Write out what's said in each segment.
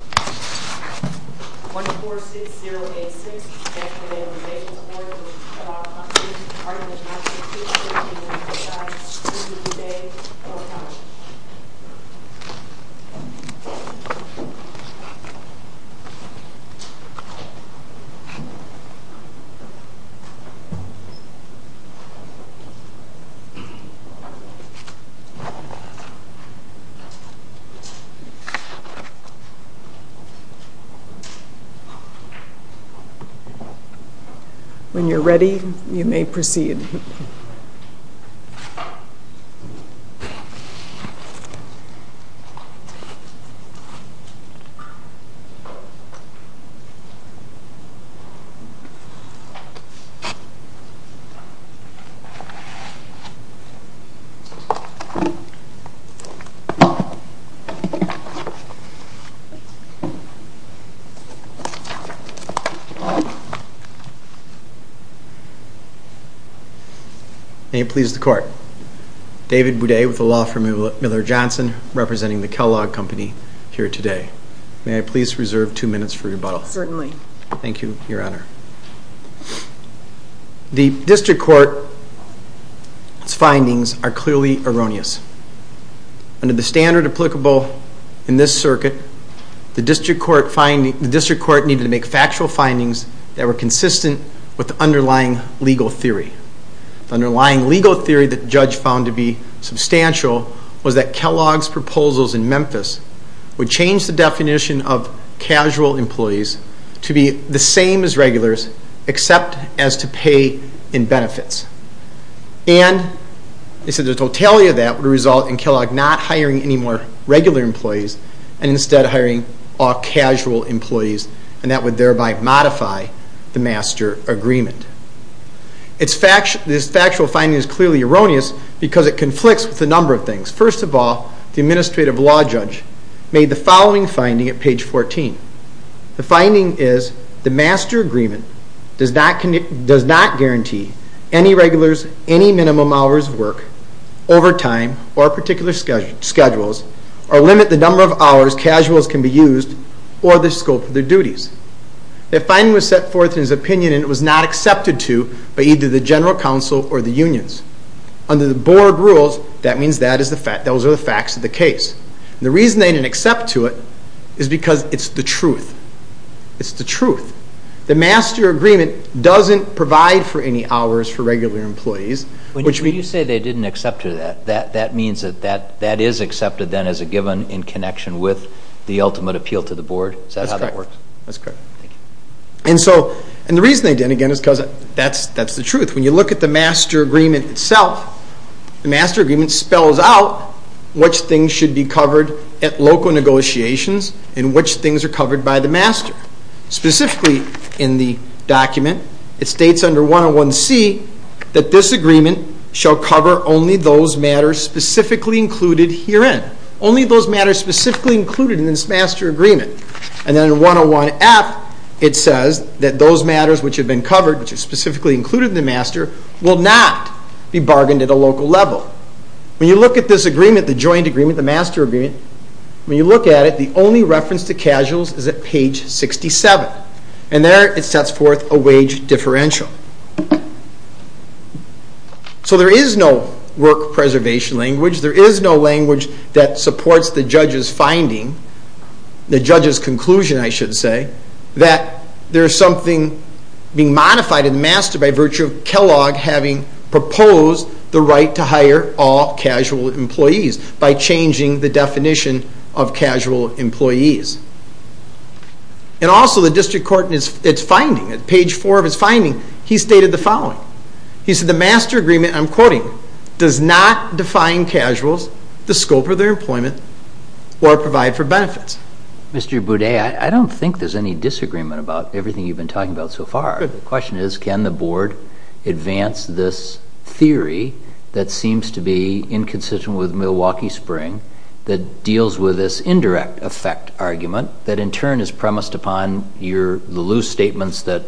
1-460-86, Bank of Nevada Rebates Award for Kellogg Company, Arlington, Massachusetts, is being presented to you today from Kellogg. When you're ready, you may proceed. May it please the Court, David Boudet with the Law Firm Miller Johnson representing the Kellogg Company here today. May I please reserve two minutes for rebuttal? Certainly. Thank you, Your Honor. The District Court's findings are clearly erroneous. Under the standard applicable in this circuit, the District Court needed to make factual findings that were consistent with the underlying legal theory. The underlying legal theory that the judge found to be substantial was that Kellogg's proposals in Memphis would change the definition of casual employees and the totality of that would result in Kellogg not hiring any more regular employees and instead hiring all casual employees and that would thereby modify the master agreement. This factual finding is clearly erroneous because it conflicts with a number of things. First of all, the administrative law judge made the following finding at page 14. The finding is the master agreement does not guarantee any minimum hours of work over time or particular schedules or limit the number of hours casuals can be used or the scope of their duties. That finding was set forth in his opinion and it was not accepted to by either the General Counsel or the unions. Under the board rules, those are the facts of the case. The reason they didn't accept to it is because it's the truth. It's the truth. The master agreement doesn't provide for any hours for regular employees. When you say they didn't accept to that, that means that that is accepted then as a given in connection with the ultimate appeal to the board? Is that how that works? That's correct. Thank you. The reason they didn't, again, is because that's the truth. When you look at the master agreement itself, the master agreement spells out which things should be covered at local negotiations and which things are covered by the master. Specifically in the document, it states under 101C that this agreement shall cover only those matters specifically included herein. Only those matters specifically included in this master agreement. And then in 101F, it says that those matters which have been covered, which are specifically included in the master, will not be bargained at a local level. When you look at this agreement, the joint agreement, the master agreement, when you look at it, the only reference to casuals is at page 67. And there it sets forth a wage differential. So there is no work preservation language. There is no language that supports the judge's finding, the judge's conclusion, I should say, that there is something being modified in the master by virtue of Kellogg having proposed the right to hire all casual employees by changing the definition of casual employees. And also the district court in its finding, at page 4 of its finding, he stated the following. He said the master agreement, I'm quoting, does not define casuals, the scope of their employment, or provide for benefits. Mr. Boudet, I don't think there's any disagreement about everything you've been talking about so far. The question is, can the board advance this theory that seems to be inconsistent with Milwaukee Spring that deals with this indirect effect argument that in turn is premised upon the loose statements that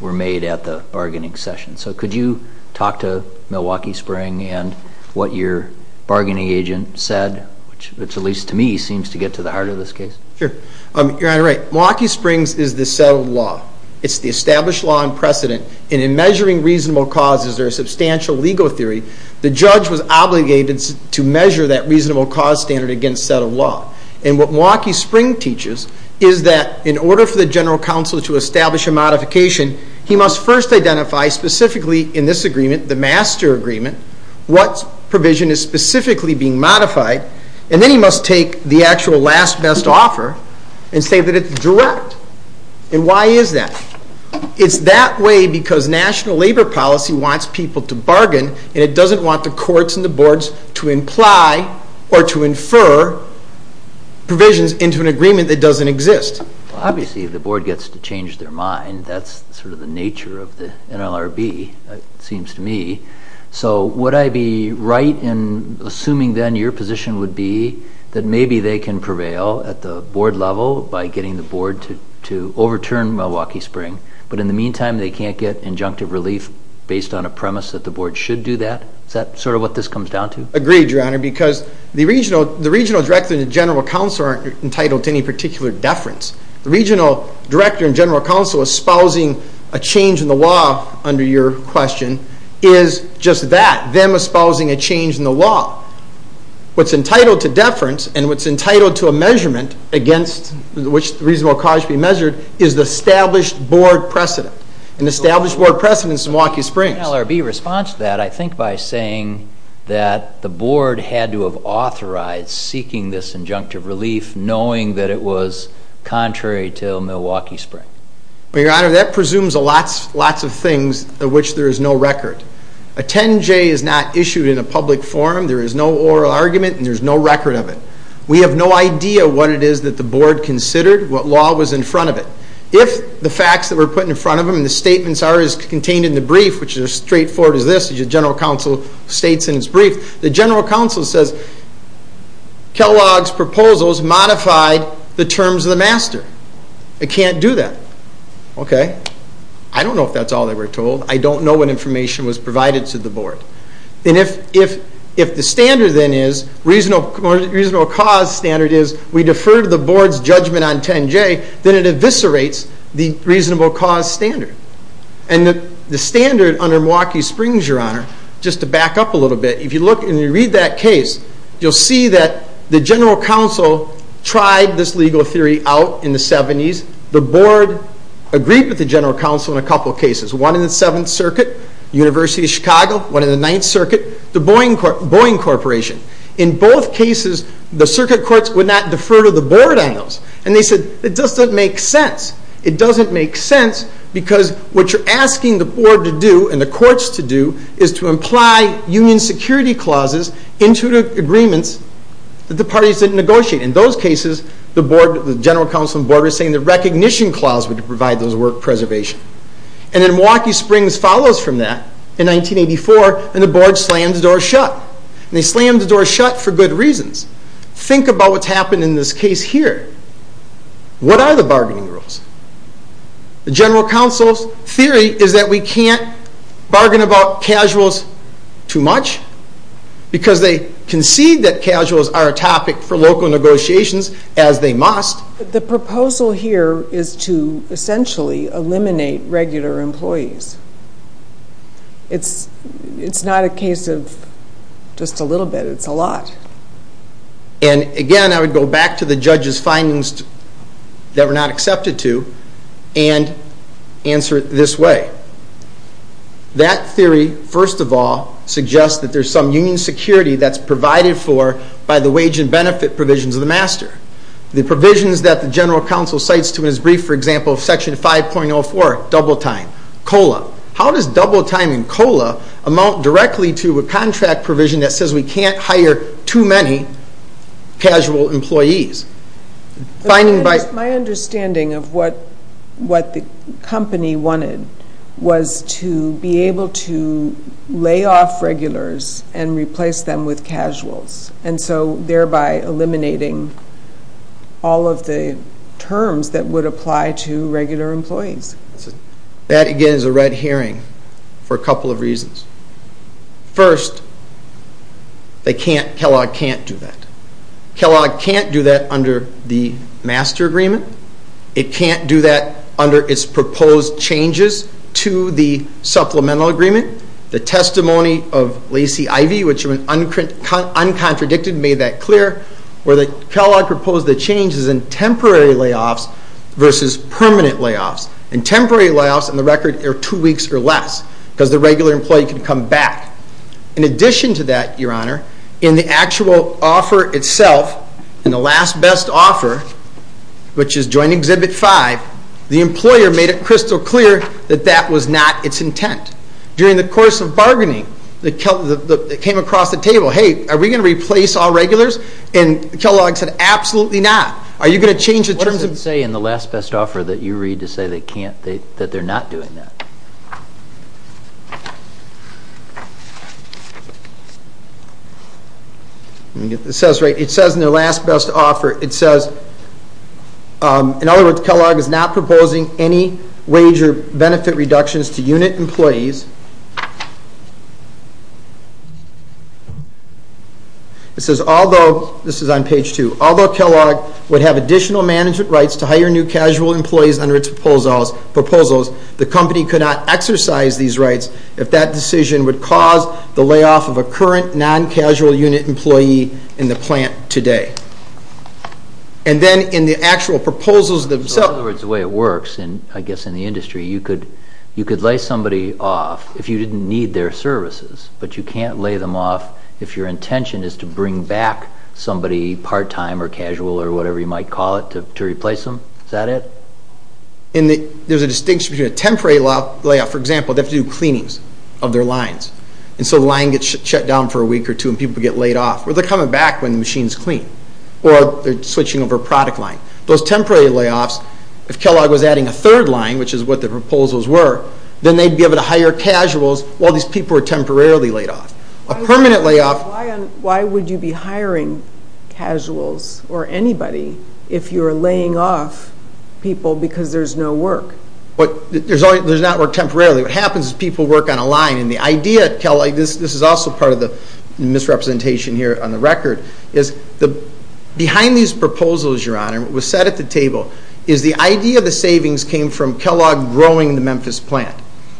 were made at the bargaining session? So could you talk to Milwaukee Spring and what your bargaining agent said, which at least to me seems to get to the heart of this case? Sure. You're right. Milwaukee Springs is the settled law. It's the established law in precedent. And in measuring reasonable cause, as their substantial legal theory, the judge was obligated to measure that reasonable cause standard against settled law. And what Milwaukee Spring teaches is that in order for the general counsel to establish a modification, he must first identify specifically in this agreement, the master agreement, what provision is specifically being modified, and then he must take the actual last best offer and say that it's direct. And why is that? It's that way because national labor policy wants people to bargain and it doesn't want the courts and the boards to imply or to infer provisions into an agreement that doesn't exist. Obviously, if the board gets to change their mind, that's sort of the nature of the NLRB, it seems to me. So would I be right in assuming then your position would be that maybe they can prevail at the board level by getting the board to overturn Milwaukee Spring, but in the meantime they can't get injunctive relief based on a premise that the board should do that? Is that sort of what this comes down to? Agreed, Your Honor, because the regional director and general counsel aren't entitled to any particular deference. The regional director and general counsel espousing a change in the law under your question is just that, them espousing a change in the law. What's entitled to deference and what's entitled to a measurement against which the reasonable cause should be measured is the established board precedent, an established board precedent in Milwaukee Springs. In the NLRB response to that, I think by saying that the board had to have authorized seeking this injunctive relief knowing that it was contrary to Milwaukee Spring. Well, Your Honor, that presumes lots of things of which there is no record. A 10-J is not issued in a public forum. There is no oral argument and there is no record of it. We have no idea what it is that the board considered, what law was in front of it. If the facts that were put in front of them and the statements are contained in the brief, which is as straightforward as this, as your general counsel states in its brief, the general counsel says, Kellogg's proposals modified the terms of the master. It can't do that. I don't know if that's all they were told. I don't know what information was provided to the board. And if the standard then is, reasonable cause standard is, we defer to the board's judgment on 10-J, then it eviscerates the reasonable cause standard. And the standard under Milwaukee Springs, Your Honor, just to back up a little bit, if you look and you read that case, you'll see that the general counsel tried this legal theory out in the 70s. The board agreed with the general counsel in a couple of cases, one in the Seventh Circuit, University of Chicago, one in the Ninth Circuit, the Boeing Corporation. In both cases, the circuit courts would not defer to the board on those. And they said, it doesn't make sense. It doesn't make sense because what you're asking the board to do and the courts to do is to imply union security clauses into the agreements that the parties didn't negotiate. In those cases, the board, the general counsel and board were saying the recognition clause would provide those work preservation. And then Milwaukee Springs follows from that in 1984, and the board slams the door shut. And they slammed the door shut for good reasons. Think about what's happened in this case here. What are the bargaining rules? The general counsel's theory is that we can't bargain about casuals too much because they concede that casuals are a topic for local negotiations, as they must. The proposal here is to essentially eliminate regular employees. It's not a case of just a little bit. It's a lot. And again, I would go back to the judge's findings that were not accepted to and answer it this way. That theory, first of all, suggests that there's some union security that's provided for by the wage and benefit provisions of the master. The provisions that the general counsel cites to his brief, for example, Section 5.04, double time, COLA. How does double time and COLA amount directly to a contract provision that says we can't hire too many casual employees? My understanding of what the company wanted was to be able to lay off regulars and replace them with casuals, and so thereby eliminating all of the terms that would apply to regular employees. That, again, is a red herring for a couple of reasons. First, Kellogg can't do that. Kellogg can't do that under the master agreement. It can't do that under its proposed changes to the supplemental agreement. The testimony of Lacey Ivey, which was uncontradicted, made that clear, where Kellogg proposed the changes in temporary layoffs versus permanent layoffs. In temporary layoffs, on the record, they're two weeks or less because the regular employee can come back. In addition to that, Your Honor, in the actual offer itself, in the last best offer, which is Joint Exhibit 5, the employer made it crystal clear that that was not its intent. During the course of bargaining, it came across the table, hey, are we going to replace all regulars? And Kellogg said, absolutely not. Are you going to change the terms of... What does it say in the last best offer that you read to say that they're not doing that? Let me get this right. It says in the last best offer, it says, in other words, Kellogg is not proposing any wage or benefit reductions to unit employees. It says, although... This is on page 2. Although Kellogg would have additional management rights to hire new casual employees under its proposals, the company could not exercise these rights if that decision would cause the layoff of a current non-casual unit employee in the plant today. And then in the actual proposals themselves... In other words, the way it works, I guess, in the industry, you could lay somebody off if you didn't need their services, but you can't lay them off if your intention is to bring back somebody part-time or casual or whatever you might call it to replace them. Is that it? There's a distinction between a temporary layoff... For example, they have to do cleanings of their lines. And so the line gets shut down for a week or two and people get laid off. Well, they're coming back when the machine's clean. Or they're switching over a product line. Those temporary layoffs, if Kellogg was adding a third line, which is what the proposals were, then they'd be able to hire casuals while these people are temporarily laid off. A permanent layoff... Why would you be hiring casuals or anybody if you're laying off people because there's no work? There's not work temporarily. What happens is people work on a line. And the idea, Kelly, this is also part of the misrepresentation here on the record, is behind these proposals, Your Honor, what was said at the table is the idea of the savings came from Kellogg growing the Memphis plant.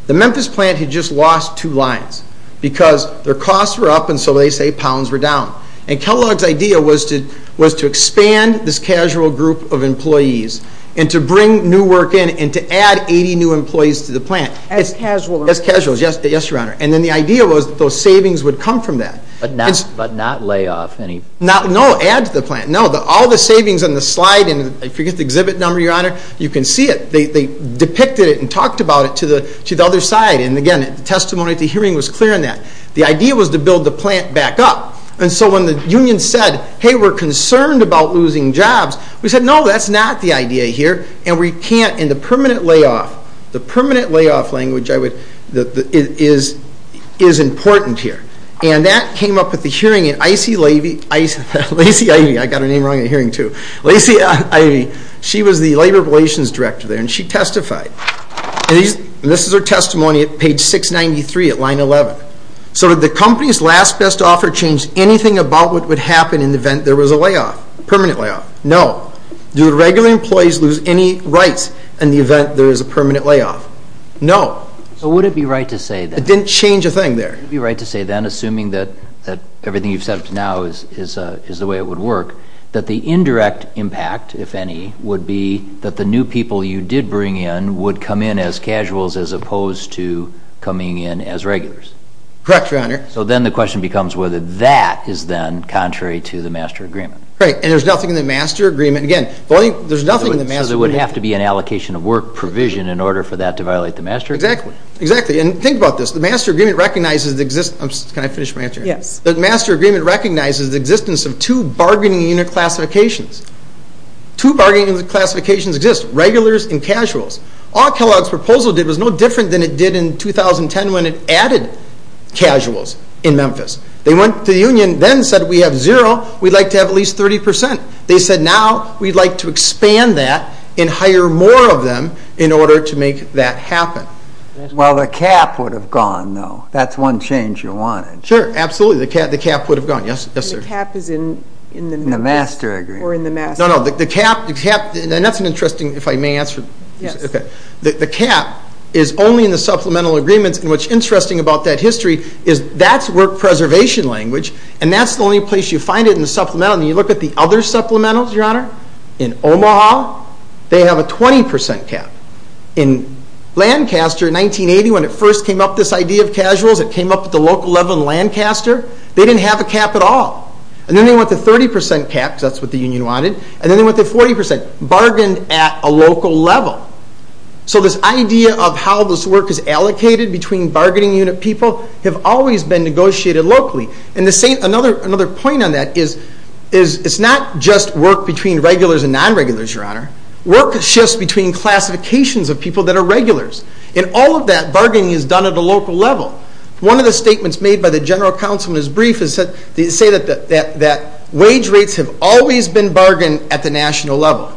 The Memphis plant had just lost 2 lines because their costs were up and so they say pounds were down. And Kellogg's idea was to expand this casual group of employees and to bring new work in and to add 80 new employees to the plant. As casuals? As casuals, yes, Your Honor. And then the idea was that those savings would come from that. But not lay off any... No, add to the plant. No, all the savings on the slide and I forget the exhibit number, Your Honor, you can see it. They depicted it and talked about it to the other side. And again, the testimony at the hearing was clear on that. The idea was to build the plant back up. And so when the union said, hey, we're concerned about losing jobs, we said, no, that's not the idea here and we can't, and the permanent layoff, the permanent layoff language is important here. And that came up at the hearing at Lacey... I got her name wrong at the hearing too. Lacey, she was the Labor Relations Director there and she testified. And this is her testimony at page 693 at line 11. So did the company's last best offer change anything about what would happen in the event there was a layoff, permanent layoff? No. Do the regular employees lose any rights in the event there is a permanent layoff? No. So would it be right to say that... It didn't change a thing there. Would it be right to say then, assuming that everything you've said up to now is the way it would work, that the indirect impact, if any, would be that the new people you did bring in would come in as casuals as opposed to coming in as regulars? Correct, Your Honor. So then the question becomes whether that is then contrary to the master agreement. Right. And there's nothing in the master agreement... Again, there's nothing in the master agreement... So there would have to be an allocation of work provision in order for that to violate the master agreement? Exactly. Exactly. And think about this. The master agreement recognizes the existence... Can I finish my answer? Yes. The master agreement recognizes the existence of two bargaining unit classifications. Two bargaining unit classifications exist, regulars and casuals. All Kellogg's proposal did was no different than it did in 2010 when it added casuals in Memphis. They went to the union, then said, we have zero, we'd like to have at least 30%. They said, now we'd like to expand that and hire more of them in order to make that happen. Well, the cap would have gone, though. That's one change you wanted. Sure, absolutely. The cap would have gone. Yes, sir? The cap is in the master agreement. Or in the master. No, no. The cap, and that's an interesting, if I may answer... Yes. Okay. The cap is only in the supplemental agreements and what's interesting about that history is that's work preservation language and that's the only place you find it in the supplemental. And you look at the other supplementals, Your Honor, in Omaha, they have a 20% cap. In Lancaster in 1980, when it first came up, this idea of casuals, it came up at the local level in Lancaster. They didn't have a cap at all. And then they went to 30% cap, because that's what the union wanted, and then they went to 40%. Bargained at a local level. So this idea of how this work is allocated between bargaining unit people have always been negotiated locally. And another point on that is it's not just work between regulars and non-regulars, Your Honor. Work shifts between classifications of people that are regulars. In all of that, bargaining is done at a local level. One of the statements made by the general counsel in his brief is to say that wage rates have always been bargained at the national level.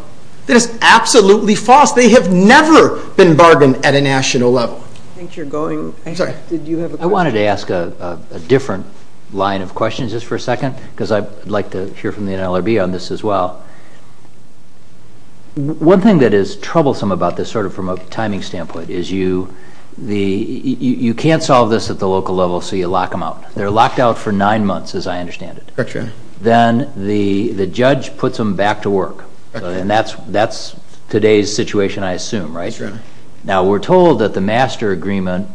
That is absolutely false. They have never been bargained at a national level. I think you're going... I'm sorry. Did you have a question? I wanted to ask a different line of questions just for a second, because I'd like to hear from the NLRB on this as well. One thing that is troublesome about this sort of from a timing standpoint is you can't solve this at the local level so you lock them out. They're locked out for nine months, as I understand it. Correct, Your Honor. Then the judge puts them back to work. And that's today's situation, I assume, right? Yes, Your Honor. Now, we're told that the master agreement,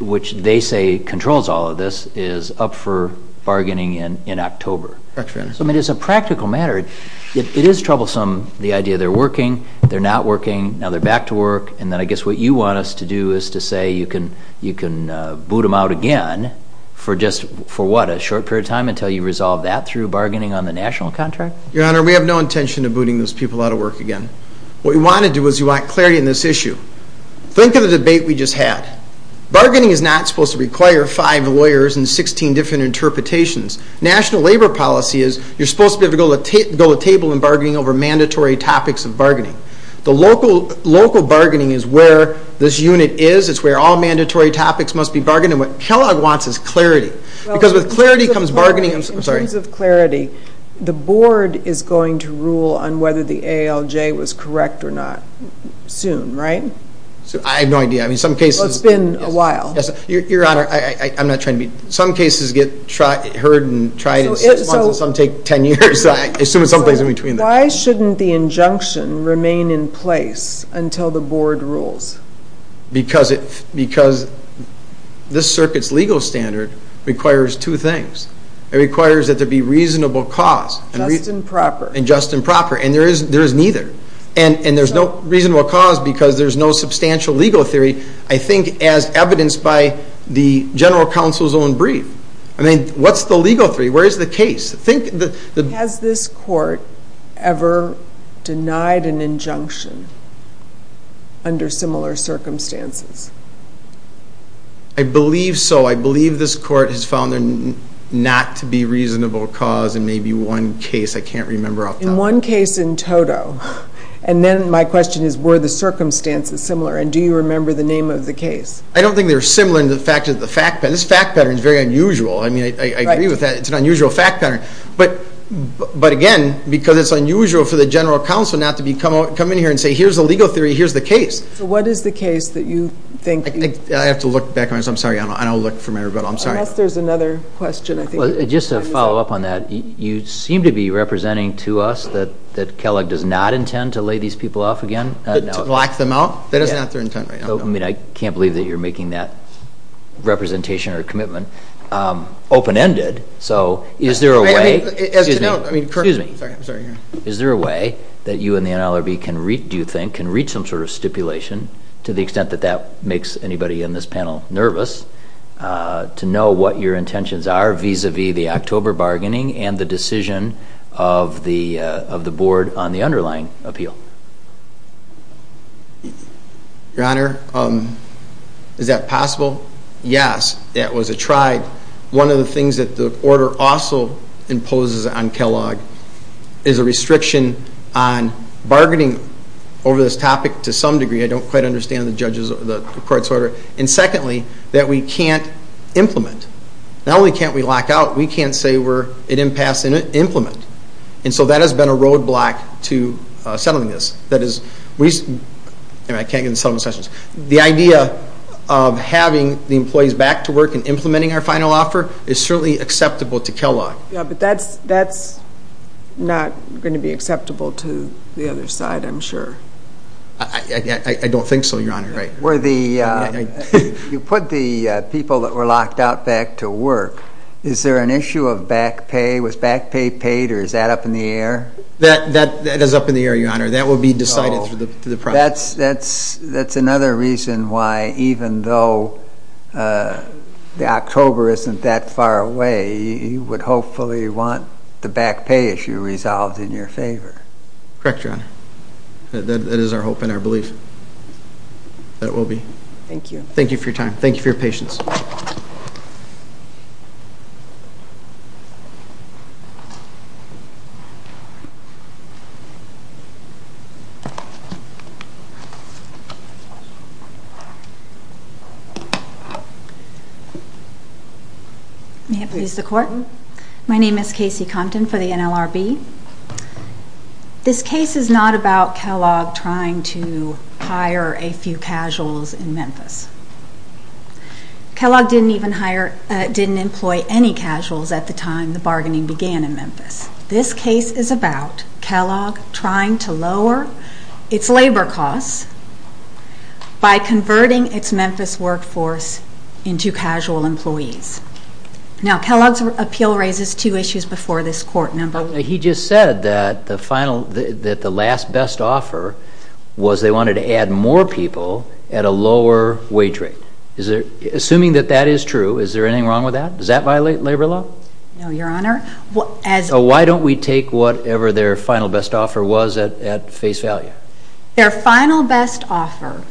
which they say controls all of this, is up for bargaining in October. Correct, Your Honor. So, I mean, as a practical matter, it is troublesome, the idea they're working, they're not working, now they're back to work, and then I guess what you want us to do is to say you can boot them out again for just, for what, a short period of time until you resolve that through bargaining on the national contract? Your Honor, we have no intention of booting those people out of work again. What we want to do is we want clarity on this issue. Think of the debate we just had. Bargaining is not supposed to require five lawyers and 16 different interpretations. National labor policy is you're supposed to be able to go to the table in bargaining over mandatory topics of bargaining. The local bargaining is where this unit is. It's where all mandatory topics must be bargained. And what Kellogg wants is clarity. Because with clarity comes bargaining. In terms of clarity, the board is going to rule on whether the ALJ was correct or not soon, right? I have no idea. I mean, some cases... Well, it's been a while. Your Honor, I'm not trying to be... Some cases get heard and tried in six months and some take 10 years. I assume it's someplace in between. Why shouldn't the injunction remain in place until the board rules? Because this circuit's legal standard requires two things. It requires that there be reasonable cause. Just and proper. And just and proper. And there is neither. And there's no reasonable cause because there's no substantial legal theory, I think, as evidenced by the general counsel's own brief. I mean, what's the legal theory? Where is the case? Has this court ever denied an injunction under similar circumstances? I believe so. I believe this court has found there not to be reasonable cause in maybe one case. I can't remember off the top of my head. In one case in total. And then my question is, were the circumstances similar and do you remember the name of the case? I don't think they were similar in the fact that the fact pattern... This fact pattern is very unusual. I mean, I agree with that. It's an unusual fact pattern. But again, because it's unusual for the general counsel not to come in here and say, here's the legal theory, here's the case. So what is the case that you think... I have to look back on this. I'm sorry. I don't look for my rebuttal. I'm sorry. Unless there's another question, I think. Just to follow up on that, you seem to be representing to us that Kellogg does not intend to lay these people off again. To black them out? That is not their intent right now. I mean, I can't believe that you're making that representation or commitment open-ended. So is there a way... Excuse me. I'm sorry. Is there a way that you and the NLRB can read, do you think, can read some sort of stipulation, to the extent that that makes anybody in this panel nervous, to know what your intentions are vis-à-vis the October bargaining and the decision of the Board on the underlying appeal? Your Honor, is that possible? Yes. That was a tried... The order also imposes on Kellogg is a restriction on bargaining over this topic to some degree. I don't quite understand the court's order. And secondly, that we can't implement. Not only can't we lock out, we can't say we're at impasse and implement. And so that has been a roadblock to settling this. That is... I can't get into settlement sessions. The idea of having the employees back to work and implementing our final offer is certainly acceptable to Kellogg. Yeah, but that's not going to be acceptable to the other side, I'm sure. I don't think so, Your Honor. Were the... You put the people that were locked out back to work. Is there an issue of back pay? Was back pay paid, or is that up in the air? That is up in the air, Your Honor. That will be decided through the process. That's another reason why, even though October isn't that far away, you would hopefully want the back pay issue resolved in your favor. Correct, Your Honor. That is our hope and our belief. That will be. Thank you. Thank you for your time. Thank you for your patience. May it please the Court. My name is Casey Compton for the NLRB. This case is not about Kellogg trying to hire a few casuals in Memphis. Kellogg didn't even hire... didn't employ any casuals at the time the bargaining began in Memphis. This case is about Kellogg trying to lower its labor costs by converting its Memphis workforce into casual employees. Now, Kellogg's appeal raises two issues before this Court. Number one... He just said that the last best offer was they wanted to add more people at a lower wage rate. Assuming that that is true, is there anything wrong with that? Does that violate labor law? No, Your Honor. Why don't we take whatever their final best offer was at face value? Their final best offer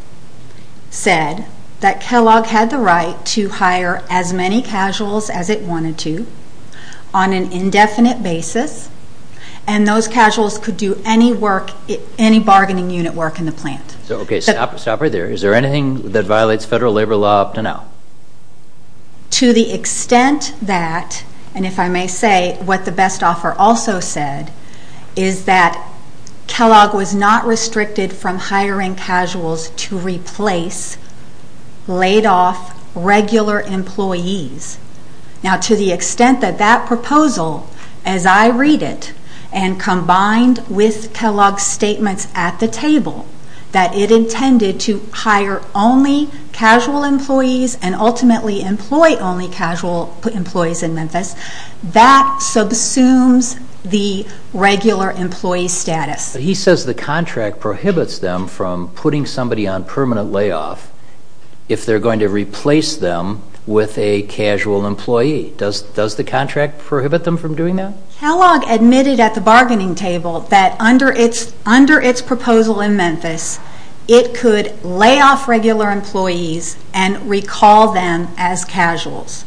said that Kellogg had the right to hire as many casuals as it wanted to on an indefinite basis, and those casuals could do any bargaining unit work in the plant. Okay, stop right there. Is there anything that violates federal labor law up to now? To the extent that, and if I may say, what the best offer also said is that Kellogg was not restricted from hiring casuals to replace laid-off regular employees. Now, to the extent that that proposal, as I read it, and combined with Kellogg's statements at the table that it intended to hire only casual employees and ultimately employ only casual employees in Memphis, that subsumes the regular employee status. He says the contract prohibits them from putting somebody on permanent layoff if they're going to replace them with a casual employee. Does the contract prohibit them from doing that? Kellogg admitted at the bargaining table that under its proposal in Memphis, it could lay off regular employees and recall them as casuals.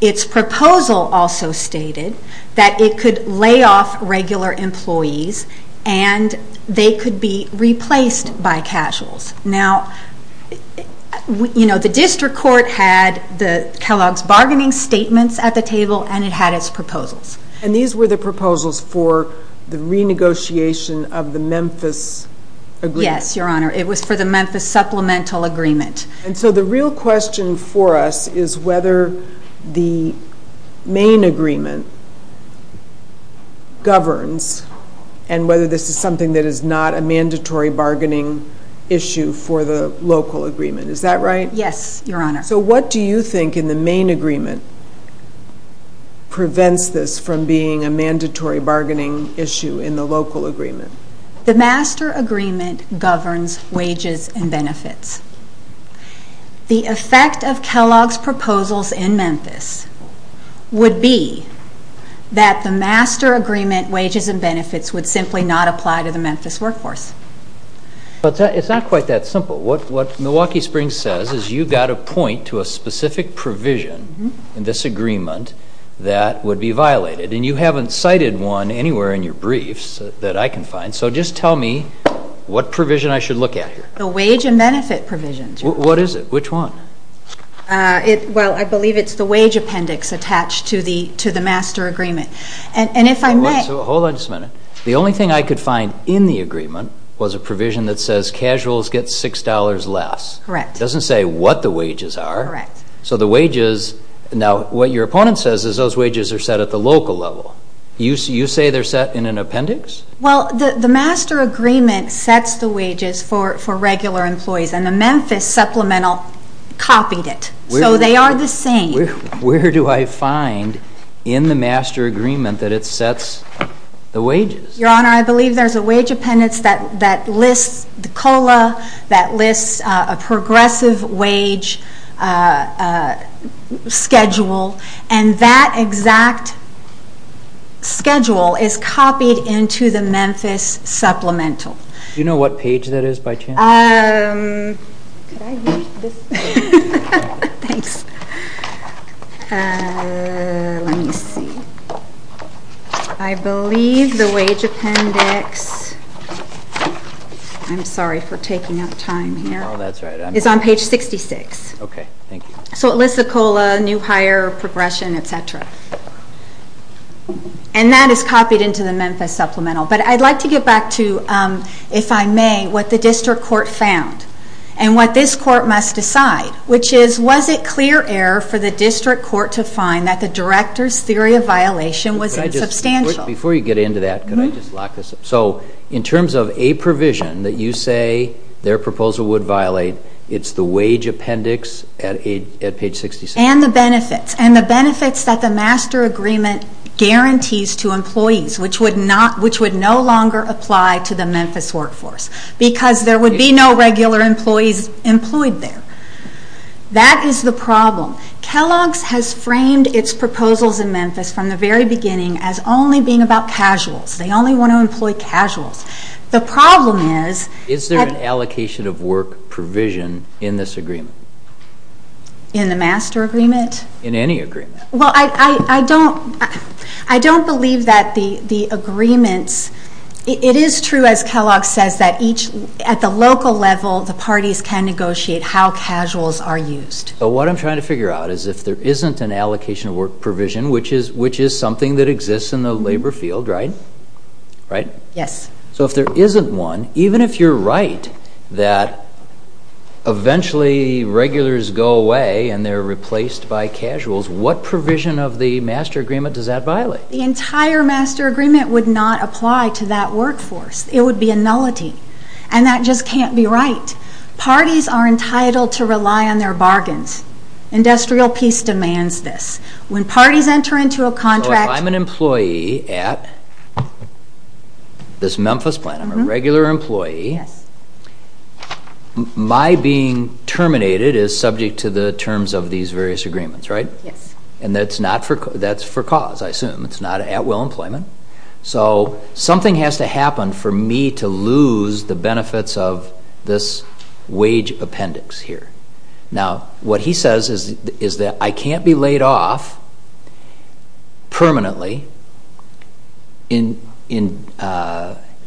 Its proposal also stated that it could lay off regular employees and they could be replaced by casuals. Now, you know, the District Court had Kellogg's bargaining statements at the table and it had its proposals. And these were the proposals for the renegotiation of the Memphis agreement? Yes, Your Honor. It was for the Memphis Supplemental Agreement. And so the real question for us is whether the main agreement governs and whether this is something that is not a mandatory bargaining issue for the local agreement. Is that right? Yes, Your Honor. So what do you think in the main agreement prevents this from being a mandatory bargaining issue in the local agreement? The master agreement governs wages and benefits. The effect of Kellogg's proposals in Memphis would be that the master agreement wages and benefits would simply not apply to the Memphis workforce. It's not quite that simple. What Milwaukee Springs says is you've got to point to a specific provision in this agreement that would be violated. And you haven't cited one anywhere in your briefs that I can find. So just tell me what provision I should look at here. The wage and benefit provisions, Your Honor. What is it? Which one? Well, I believe it's the wage appendix attached to the master agreement. Hold on just a minute. The only thing I could find in the agreement was a provision that says casuals get $6 less. Correct. It doesn't say what the wages are. Correct. Now, what your opponent says is those wages are set at the local level. You say they're set in an appendix? Well, the master agreement sets the wages for regular employees, and the Memphis supplemental copied it. So they are the same. Where do I find in the master agreement that it sets the wages? Your Honor, I believe there's a wage appendix that lists the COLA, that lists a progressive wage schedule, and that exact schedule is copied into the Memphis supplemental. Do you know what page that is by chance? Could I read this? Thanks. Let me see. I believe the wage appendix. I'm sorry for taking up time here. Oh, that's all right. It's on page 66. Okay, thank you. So it lists the COLA, new hire, progression, et cetera. And that is copied into the Memphis supplemental. But I'd like to get back to, if I may, what the district court found and what this court must decide, which is was it clear error for the district court to find that the director's theory of violation was insubstantial? Before you get into that, could I just lock this up? So in terms of a provision that you say their proposal would violate, it's the wage appendix at page 66? And the benefits. And the benefits that the master agreement guarantees to employees, which would no longer apply to the Memphis workforce, because there would be no regular employees employed there. That is the problem. Kellogg's has framed its proposals in Memphis from the very beginning as only being about casuals. They only want to employ casuals. The problem is that. Is there an allocation of work provision in this agreement? In the master agreement? In any agreement. Well, I don't believe that the agreements. It is true, as Kellogg says, that at the local level the parties can negotiate how casuals are used. But what I'm trying to figure out is if there isn't an allocation of work provision, which is something that exists in the labor field, right? Right? Yes. So if there isn't one, even if you're right that eventually regulars go away and they're replaced by casuals, what provision of the master agreement does that violate? The entire master agreement would not apply to that workforce. It would be a nullity. And that just can't be right. Parties are entitled to rely on their bargains. Industrial peace demands this. When parties enter into a contract. So if I'm an employee at this Memphis plant, I'm a regular employee. Yes. My being terminated is subject to the terms of these various agreements, right? Yes. And that's for cause, I assume. It's not at will employment. So something has to happen for me to lose the benefits of this wage appendix here. Now, what he says is that I can't be laid off permanently and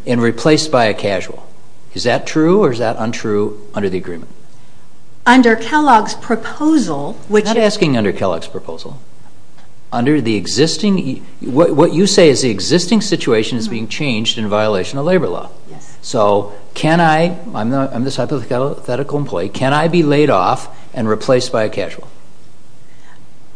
replaced by a casual. Is that true or is that untrue under the agreement? Under Kellogg's proposal, which is... Under the existing... What you say is the existing situation is being changed in violation of labor law. So can I... I'm this hypothetical employee. Can I be laid off and replaced by a casual?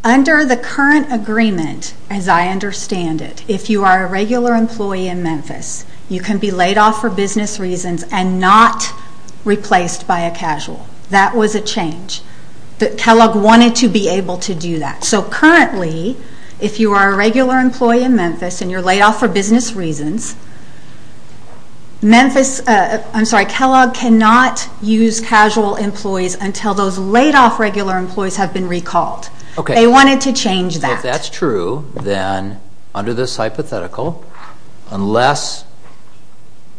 Under the current agreement, as I understand it, if you are a regular employee in Memphis, you can be laid off for business reasons and not replaced by a casual. That was a change. Kellogg wanted to be able to do that. So currently, if you are a regular employee in Memphis and you're laid off for business reasons, Memphis... I'm sorry, Kellogg cannot use casual employees until those laid off regular employees have been recalled. They wanted to change that. If that's true, then under this hypothetical, unless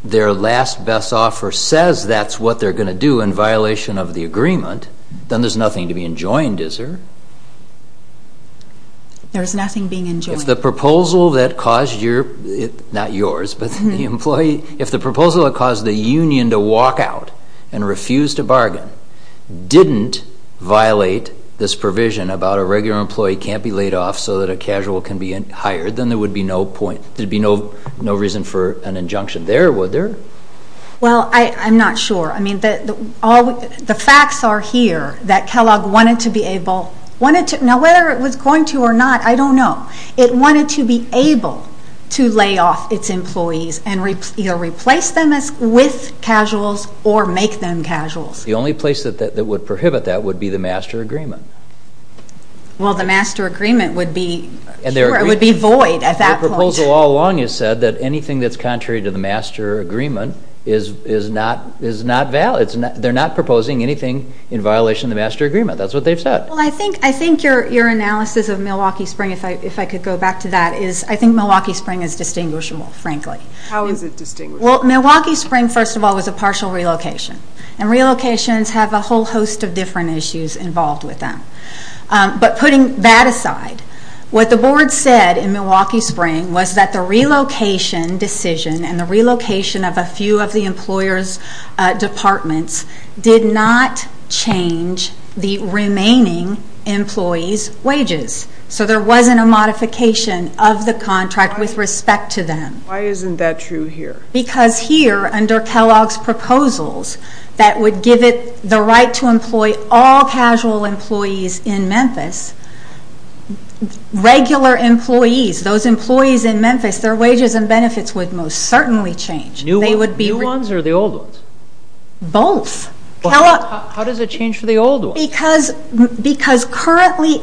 their last best offer says that's what they're going to do in violation of the agreement, then there's nothing to be enjoined, is there? There's nothing being enjoined. If the proposal that caused your... Not yours, but the employee. If the proposal that caused the union to walk out and refuse to bargain didn't violate this provision about a regular employee can't be laid off so that a casual can be hired, then there would be no reason for an injunction there, would there? Well, I'm not sure. I mean, the facts are here that Kellogg wanted to be able... Now, whether it was going to or not, I don't know. It wanted to be able to lay off its employees and either replace them with casuals or make them casuals. The only place that would prohibit that would be the master agreement. Well, the master agreement would be void at that point. Their proposal all along has said that anything that's contrary to the master agreement is not valid. They're not proposing anything in violation of the master agreement. That's what they've said. Well, I think your analysis of Milwaukee Spring, if I could go back to that, is I think Milwaukee Spring is distinguishable, frankly. How is it distinguishable? Well, Milwaukee Spring, first of all, was a partial relocation, and relocations have a whole host of different issues involved with them. But putting that aside, what the board said in Milwaukee Spring was that the relocation decision and the relocation of a few of the employers' departments did not change the remaining employees' wages. So there wasn't a modification of the contract with respect to them. Why isn't that true here? Because here, under Kellogg's proposals that would give it the right to employ all casual employees in Memphis, regular employees, those employees in Memphis, their wages and benefits would most certainly change. New ones or the old ones? Both. How does it change for the old ones? Because currently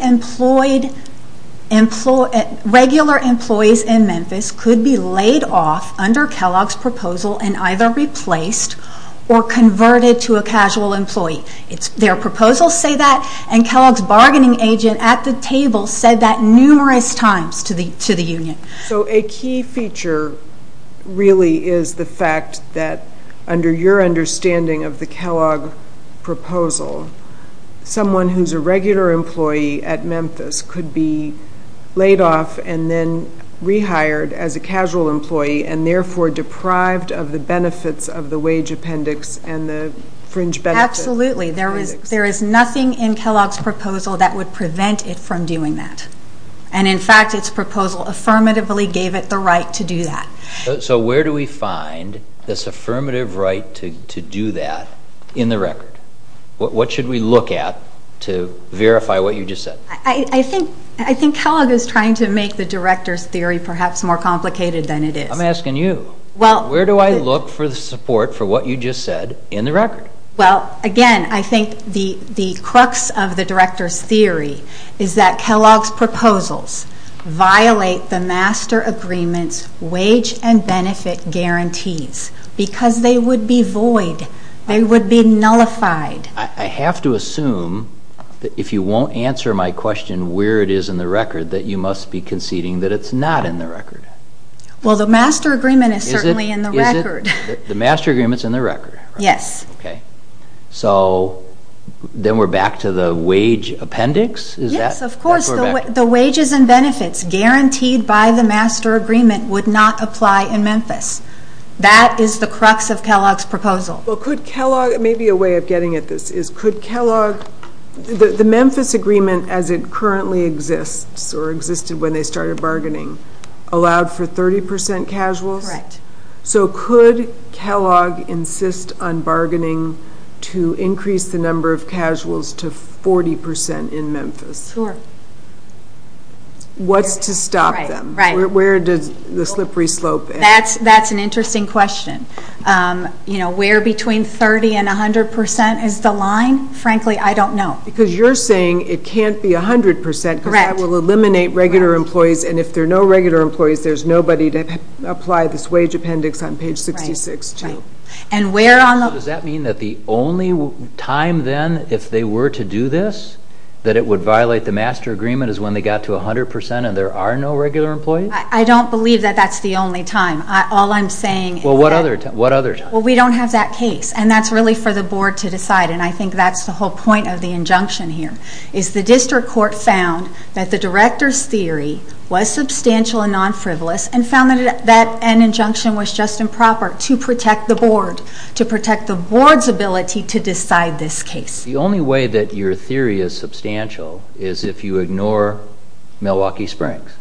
regular employees in Memphis could be laid off under Kellogg's proposal and either replaced or converted to a casual employee. Their proposals say that, and Kellogg's bargaining agent at the table said that numerous times to the union. So a key feature really is the fact that under your understanding of the Kellogg proposal, someone who's a regular employee at Memphis could be laid off and then rehired as a casual employee and therefore deprived of the benefits of the wage appendix and the fringe benefit. Absolutely. There is nothing in Kellogg's proposal that would prevent it from doing that. And in fact, its proposal affirmatively gave it the right to do that. So where do we find this affirmative right to do that in the record? What should we look at to verify what you just said? I think Kellogg is trying to make the director's theory perhaps more complicated than it is. I'm asking you. Where do I look for the support for what you just said in the record? Well, again, I think the crux of the director's theory is that Kellogg's proposals violate the master agreement's wage and benefit guarantees because they would be void. They would be nullified. I have to assume that if you won't answer my question where it is in the record, that you must be conceding that it's not in the record. Well, the master agreement is certainly in the record. The master agreement is in the record? Yes. Okay. So then we're back to the wage appendix? Yes, of course. The wages and benefits guaranteed by the master agreement would not apply in Memphis. That is the crux of Kellogg's proposal. Well, could Kellogg – maybe a way of getting at this is could Kellogg – the Memphis agreement as it currently exists or existed when they started bargaining allowed for 30% casuals? Correct. So could Kellogg insist on bargaining to increase the number of casuals to 40% in Memphis? Sure. What's to stop them? Right. Where does the slippery slope end? That's an interesting question. You know, where between 30% and 100% is the line? Frankly, I don't know. Because you're saying it can't be 100% because that will eliminate regular employees, and if there are no regular employees, there's nobody to apply this wage appendix on page 66, too. Right. Does that mean that the only time then if they were to do this that it would violate the master agreement is when they got to 100% and there are no regular employees? I don't believe that that's the only time. All I'm saying is that – Well, what other time? Well, we don't have that case, and that's really for the board to decide, and I think that's the whole point of the injunction here, is the district court found that the director's theory was substantial and non-frivolous and found that that injunction was just improper to protect the board, to protect the board's ability to decide this case. The only way that your theory is substantial is if you ignore Milwaukee Springs.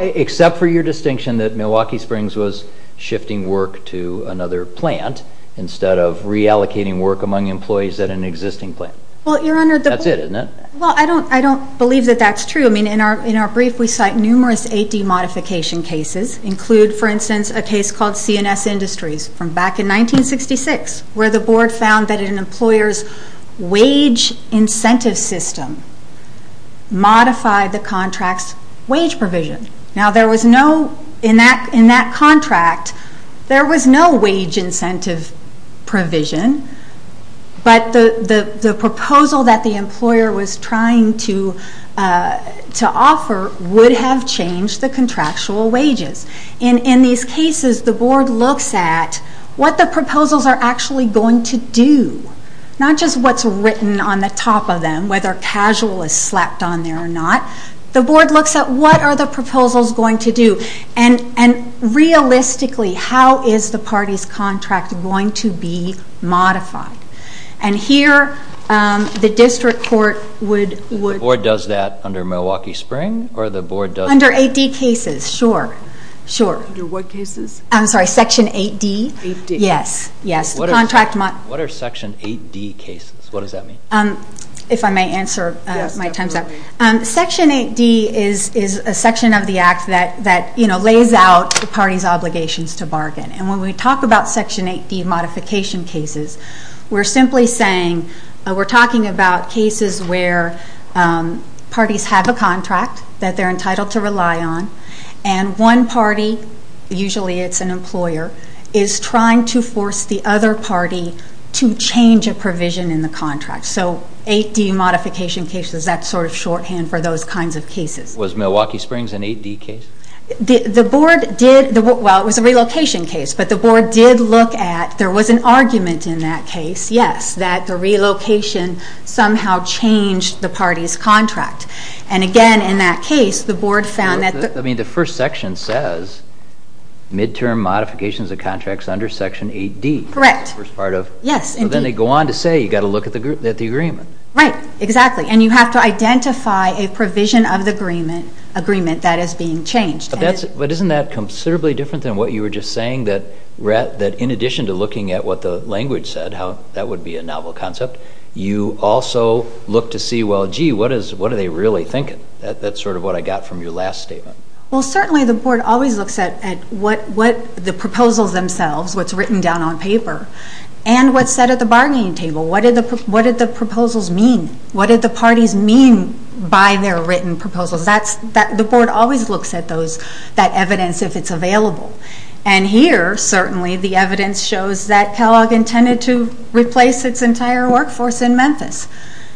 Except for your distinction that Milwaukee Springs was shifting work to another plant instead of reallocating work among employees at an existing plant. Well, Your Honor, the – That's it, isn't it? Well, I don't believe that that's true. I mean, in our brief we cite numerous AD modification cases, include, for instance, a case called CNS Industries from back in 1966 where the board found that an employer's wage incentive system modified the contract's wage provision. Now, there was no – in that contract, there was no wage incentive provision, but the proposal that the employer was trying to offer would have changed the contractual wages. In these cases, the board looks at what the proposals are actually going to do, not just what's written on the top of them, whether casual is slapped on there or not. The board looks at what are the proposals going to do, and realistically, how is the party's contract going to be modified? And here, the district court would – The board does that under Milwaukee Springs, or the board does – Under AD cases, sure, sure. Under what cases? I'm sorry, Section 8D? 8D. Yes, yes. What are Section 8D cases? What does that mean? If I may answer my time's up. Section 8D is a section of the Act that lays out the party's obligations to bargain. And when we talk about Section 8D modification cases, we're simply saying we're talking about cases where parties have a contract that they're entitled to rely on, and one party – usually it's an employer – is trying to force the other party to change a provision in the contract. So 8D modification cases, that's sort of shorthand for those kinds of cases. Was Milwaukee Springs an 8D case? The board did – well, it was a relocation case. But the board did look at – there was an argument in that case, yes, that the relocation somehow changed the party's contract. And again, in that case, the board found that – I mean, the first section says midterm modifications of contracts under Section 8D. Correct. The first part of – Yes, indeed. So then they go on to say you've got to look at the agreement. Right, exactly. And you have to identify a provision of the agreement that is being changed. But isn't that considerably different than what you were just saying, that in addition to looking at what the language said, how that would be a novel concept, you also look to see, well, gee, what are they really thinking? That's sort of what I got from your last statement. Well, certainly the board always looks at what the proposals themselves, what's written down on paper, and what's said at the bargaining table. What did the proposals mean? What did the parties mean by their written proposals? The board always looks at that evidence if it's available. And here, certainly, the evidence shows that Kellogg intended to replace its entire workforce in Memphis.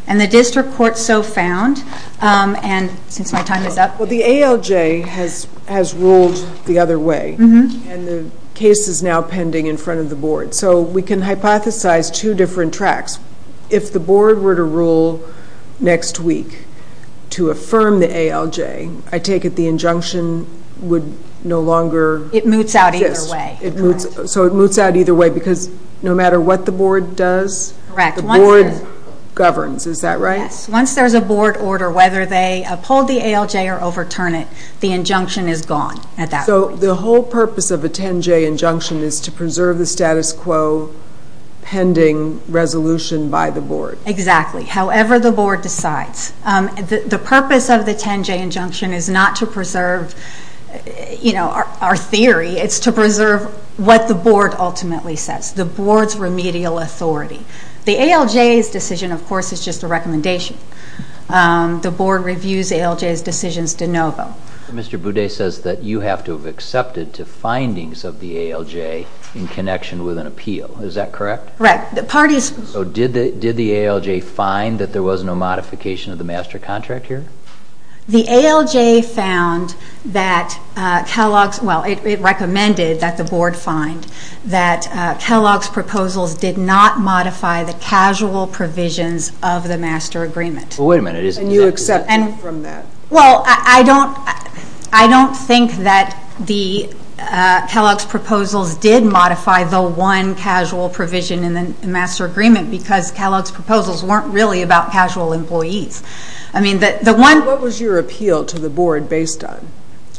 And the district court so found – and since my time is up. Well, the ALJ has ruled the other way. And the case is now pending in front of the board. So we can hypothesize two different tracks. If the board were to rule next week to affirm the ALJ, I take it the injunction would no longer exist. It moots out either way. So it moots out either way because no matter what the board does, the board governs. Is that right? Yes. Once there's a board order, whether they uphold the ALJ or overturn it, the injunction is gone at that point. So the whole purpose of a 10-J injunction is to preserve the status quo pending resolution by the board. Exactly. However the board decides. The purpose of the 10-J injunction is not to preserve our theory. It's to preserve what the board ultimately says, the board's remedial authority. The ALJ's decision, of course, is just a recommendation. The board reviews ALJ's decisions de novo. Mr. Boudet says that you have to have accepted to findings of the ALJ in connection with an appeal. Is that correct? Right. So did the ALJ find that there was no modification of the master contract here? The ALJ found that Kellogg's, well, it recommended that the board find that Kellogg's proposals did not modify the casual provisions of the master agreement. Well, wait a minute. And you accepted from that? Well, I don't think that Kellogg's proposals did modify the one casual provision in the master agreement because Kellogg's proposals weren't really about casual employees. What was your appeal to the board based on?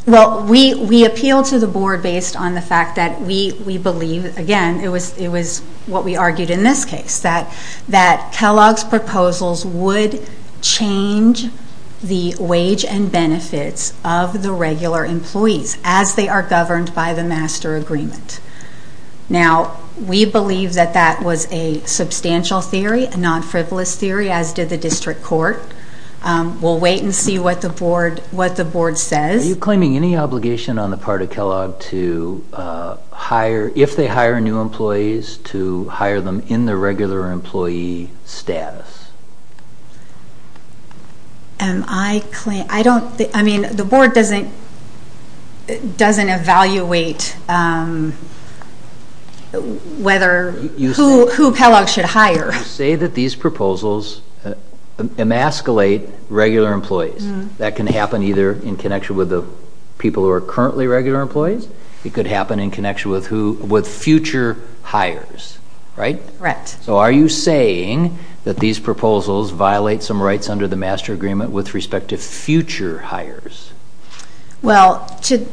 Well, we appealed to the board based on the fact that we believe, again, it was what we argued in this case, that Kellogg's proposals would change the wage and benefits of the regular employees as they are governed by the master agreement. Now, we believe that that was a substantial theory, a non-frivolous theory, as did the district court. We'll wait and see what the board says. Are you claiming any obligation on the part of Kellogg to hire, if they hire new employees, to hire them in the regular employee status? I don't think, I mean, the board doesn't evaluate whether, who Kellogg should hire. You say that these proposals emasculate regular employees. That can happen either in connection with the people who are currently regular employees. It could happen in connection with future hires, right? Correct. So are you saying that these proposals violate some rights under the master agreement with respect to future hires? Well, to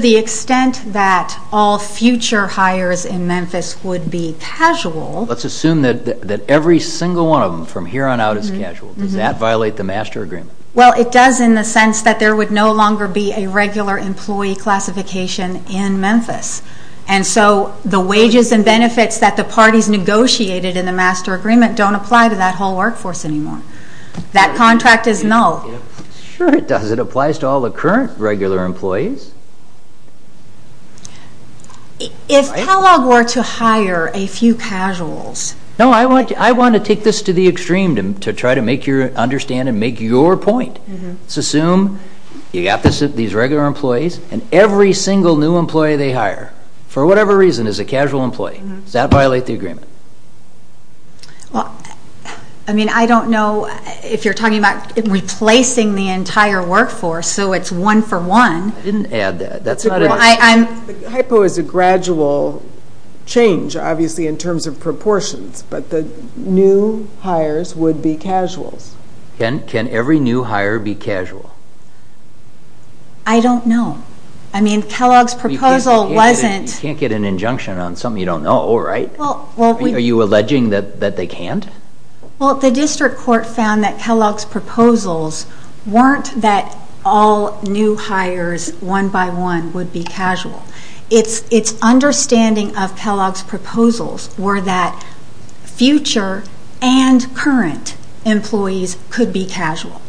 the extent that all future hires in Memphis would be casual... Let's assume that every single one of them from here on out is casual. Does that violate the master agreement? Well, it does in the sense that there would no longer be a regular employee classification in Memphis. And so the wages and benefits that the parties negotiated in the master agreement don't apply to that whole workforce anymore. That contract is null. Sure it does. It applies to all the current regular employees. If Kellogg were to hire a few casuals... No, I want to take this to the extreme to try to make you understand and make your point. Let's assume you've got these regular employees and every single new employee they hire, for whatever reason, is a casual employee. Does that violate the agreement? Well, I mean, I don't know if you're talking about replacing the entire workforce so it's one for one. I didn't add that. The hypo is a gradual change, obviously, in terms of proportions, but the new hires would be casuals. Can every new hire be casual? I don't know. I mean, Kellogg's proposal wasn't... You can't get an injunction on something you don't know, right? Are you alleging that they can't? Well, the district court found that Kellogg's proposals weren't that all new hires, one by one, would be casual. Its understanding of Kellogg's proposals were that future and current employees could be casual.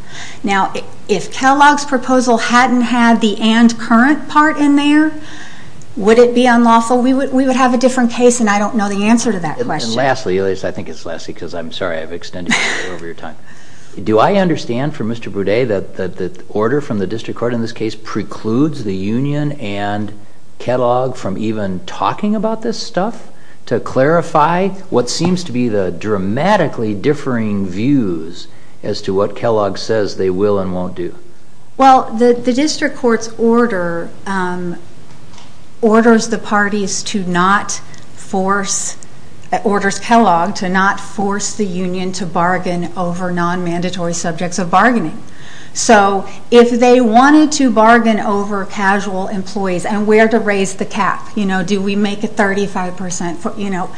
Now, if Kellogg's proposal hadn't had the and current part in there, would it be unlawful? We would have a different case, and I don't know the answer to that question. And lastly, at least I think it's lastly because I'm sorry I've extended you over your time. Do I understand from Mr. Boudet that the order from the district court in this case precludes the union and Kellogg from even talking about this stuff to clarify what seems to be the dramatically differing views as to what Kellogg says they will and won't do? Well, the district court's order orders the parties to not force... Orders Kellogg to not force the union to bargain over non-mandatory subjects of bargaining. So if they wanted to bargain over casual employees and where to raise the cap, you know, do we make it 35%? You know,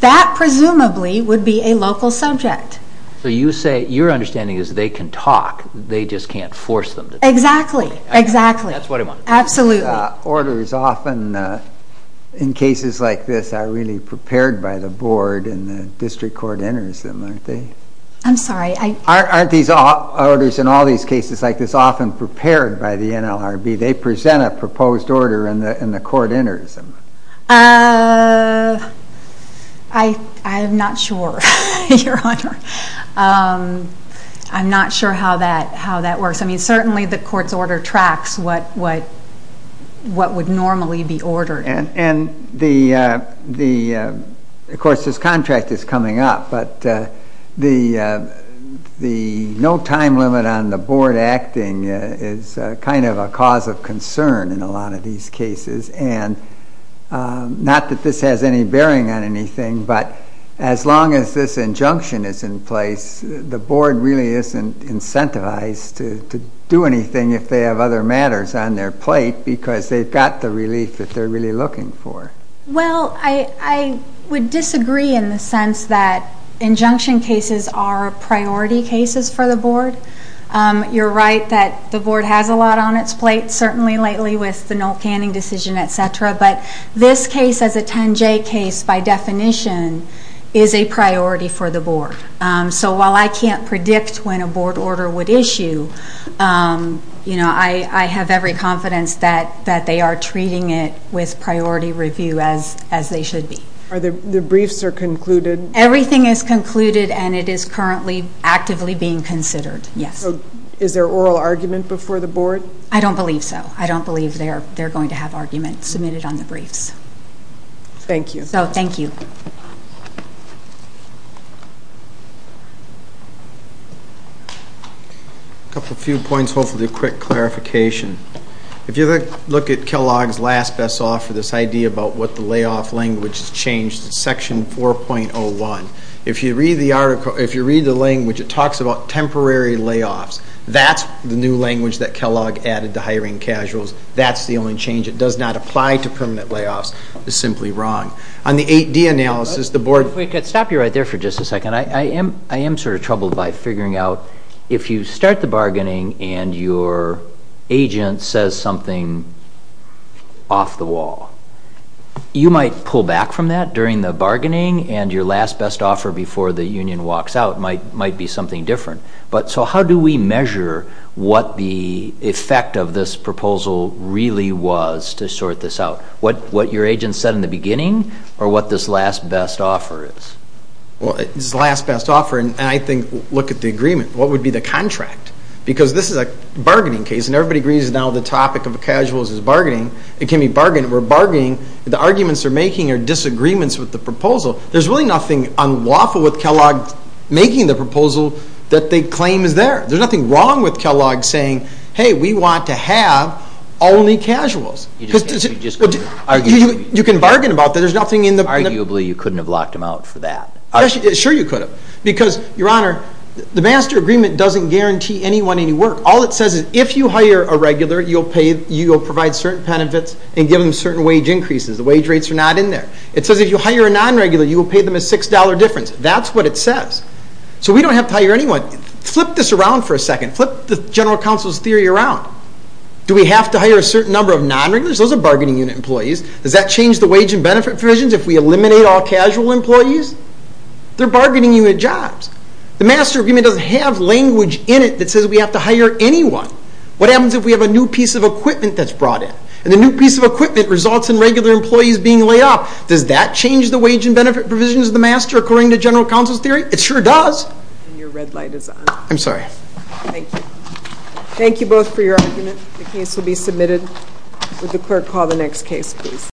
that presumably would be a local subject. So you say your understanding is they can talk, they just can't force them to talk? Exactly. Exactly. That's what I wanted to know. Absolutely. Orders often in cases like this are really prepared by the board and the district court enters them, aren't they? I'm sorry. Aren't these orders in all these cases like this often prepared by the NLRB? They present a proposed order and the court enters them. I'm not sure, Your Honor. I'm not sure how that works. I mean, certainly the court's order tracks what would normally be ordered. And, of course, this contract is coming up, but the no time limit on the board acting is kind of a cause of concern in a lot of these cases. And not that this has any bearing on anything, but as long as this injunction is in place, the board really isn't incentivized to do anything if they have other matters on their plate because they've got the relief that they're really looking for. Well, I would disagree in the sense that injunction cases are priority cases for the board. You're right that the board has a lot on its plate, certainly lately with the no canning decision, et cetera. But this case as a 10-J case, by definition, is a priority for the board. So while I can't predict when a board order would issue, I have every confidence that they are treating it with priority review as they should be. The briefs are concluded? Everything is concluded, and it is currently actively being considered, yes. So is there oral argument before the board? I don't believe so. I don't believe they're going to have arguments submitted on the briefs. Thank you. So thank you. A couple of few points, hopefully a quick clarification. If you look at Kellogg's last best offer, this idea about what the layoff language has changed, section 4.01, if you read the language, it talks about temporary layoffs. That's the new language that Kellogg added to hiring casuals. That's the only change. It does not apply to permanent layoffs. It's simply wrong. On the 8-D analysis, the board ---- If we could stop you right there for just a second. I am sort of troubled by figuring out if you start the bargaining and your agent says something off the wall, you might pull back from that during the bargaining, and your last best offer before the union walks out might be something different. So how do we measure what the effect of this proposal really was to sort this out? What your agent said in the beginning or what this last best offer is? Well, this last best offer, and I think look at the agreement. What would be the contract? Because this is a bargaining case, and everybody agrees now the topic of casuals is bargaining. It can be bargaining. We're bargaining. The arguments they're making are disagreements with the proposal. There's really nothing unlawful with Kellogg making the proposal that they claim is there. There's nothing wrong with Kellogg saying, hey, we want to have only casuals. You can bargain about that. There's nothing in the ---- Sure you could have because, Your Honor, the master agreement doesn't guarantee anyone any work. All it says is if you hire a regular, you'll provide certain benefits and give them certain wage increases. The wage rates are not in there. It says if you hire a non-regular, you will pay them a $6 difference. That's what it says. So we don't have to hire anyone. Flip this around for a second. Flip the general counsel's theory around. Do we have to hire a certain number of non-regulars? Those are bargaining unit employees. Does that change the wage and benefit provisions if we eliminate all casual employees? They're bargaining unit jobs. The master agreement doesn't have language in it that says we have to hire anyone. What happens if we have a new piece of equipment that's brought in? And the new piece of equipment results in regular employees being laid off. Does that change the wage and benefit provisions of the master according to general counsel's theory? It sure does. And your red light is on. I'm sorry. Thank you. Thank you both for your argument. The case will be submitted. Would the clerk call the next case, please?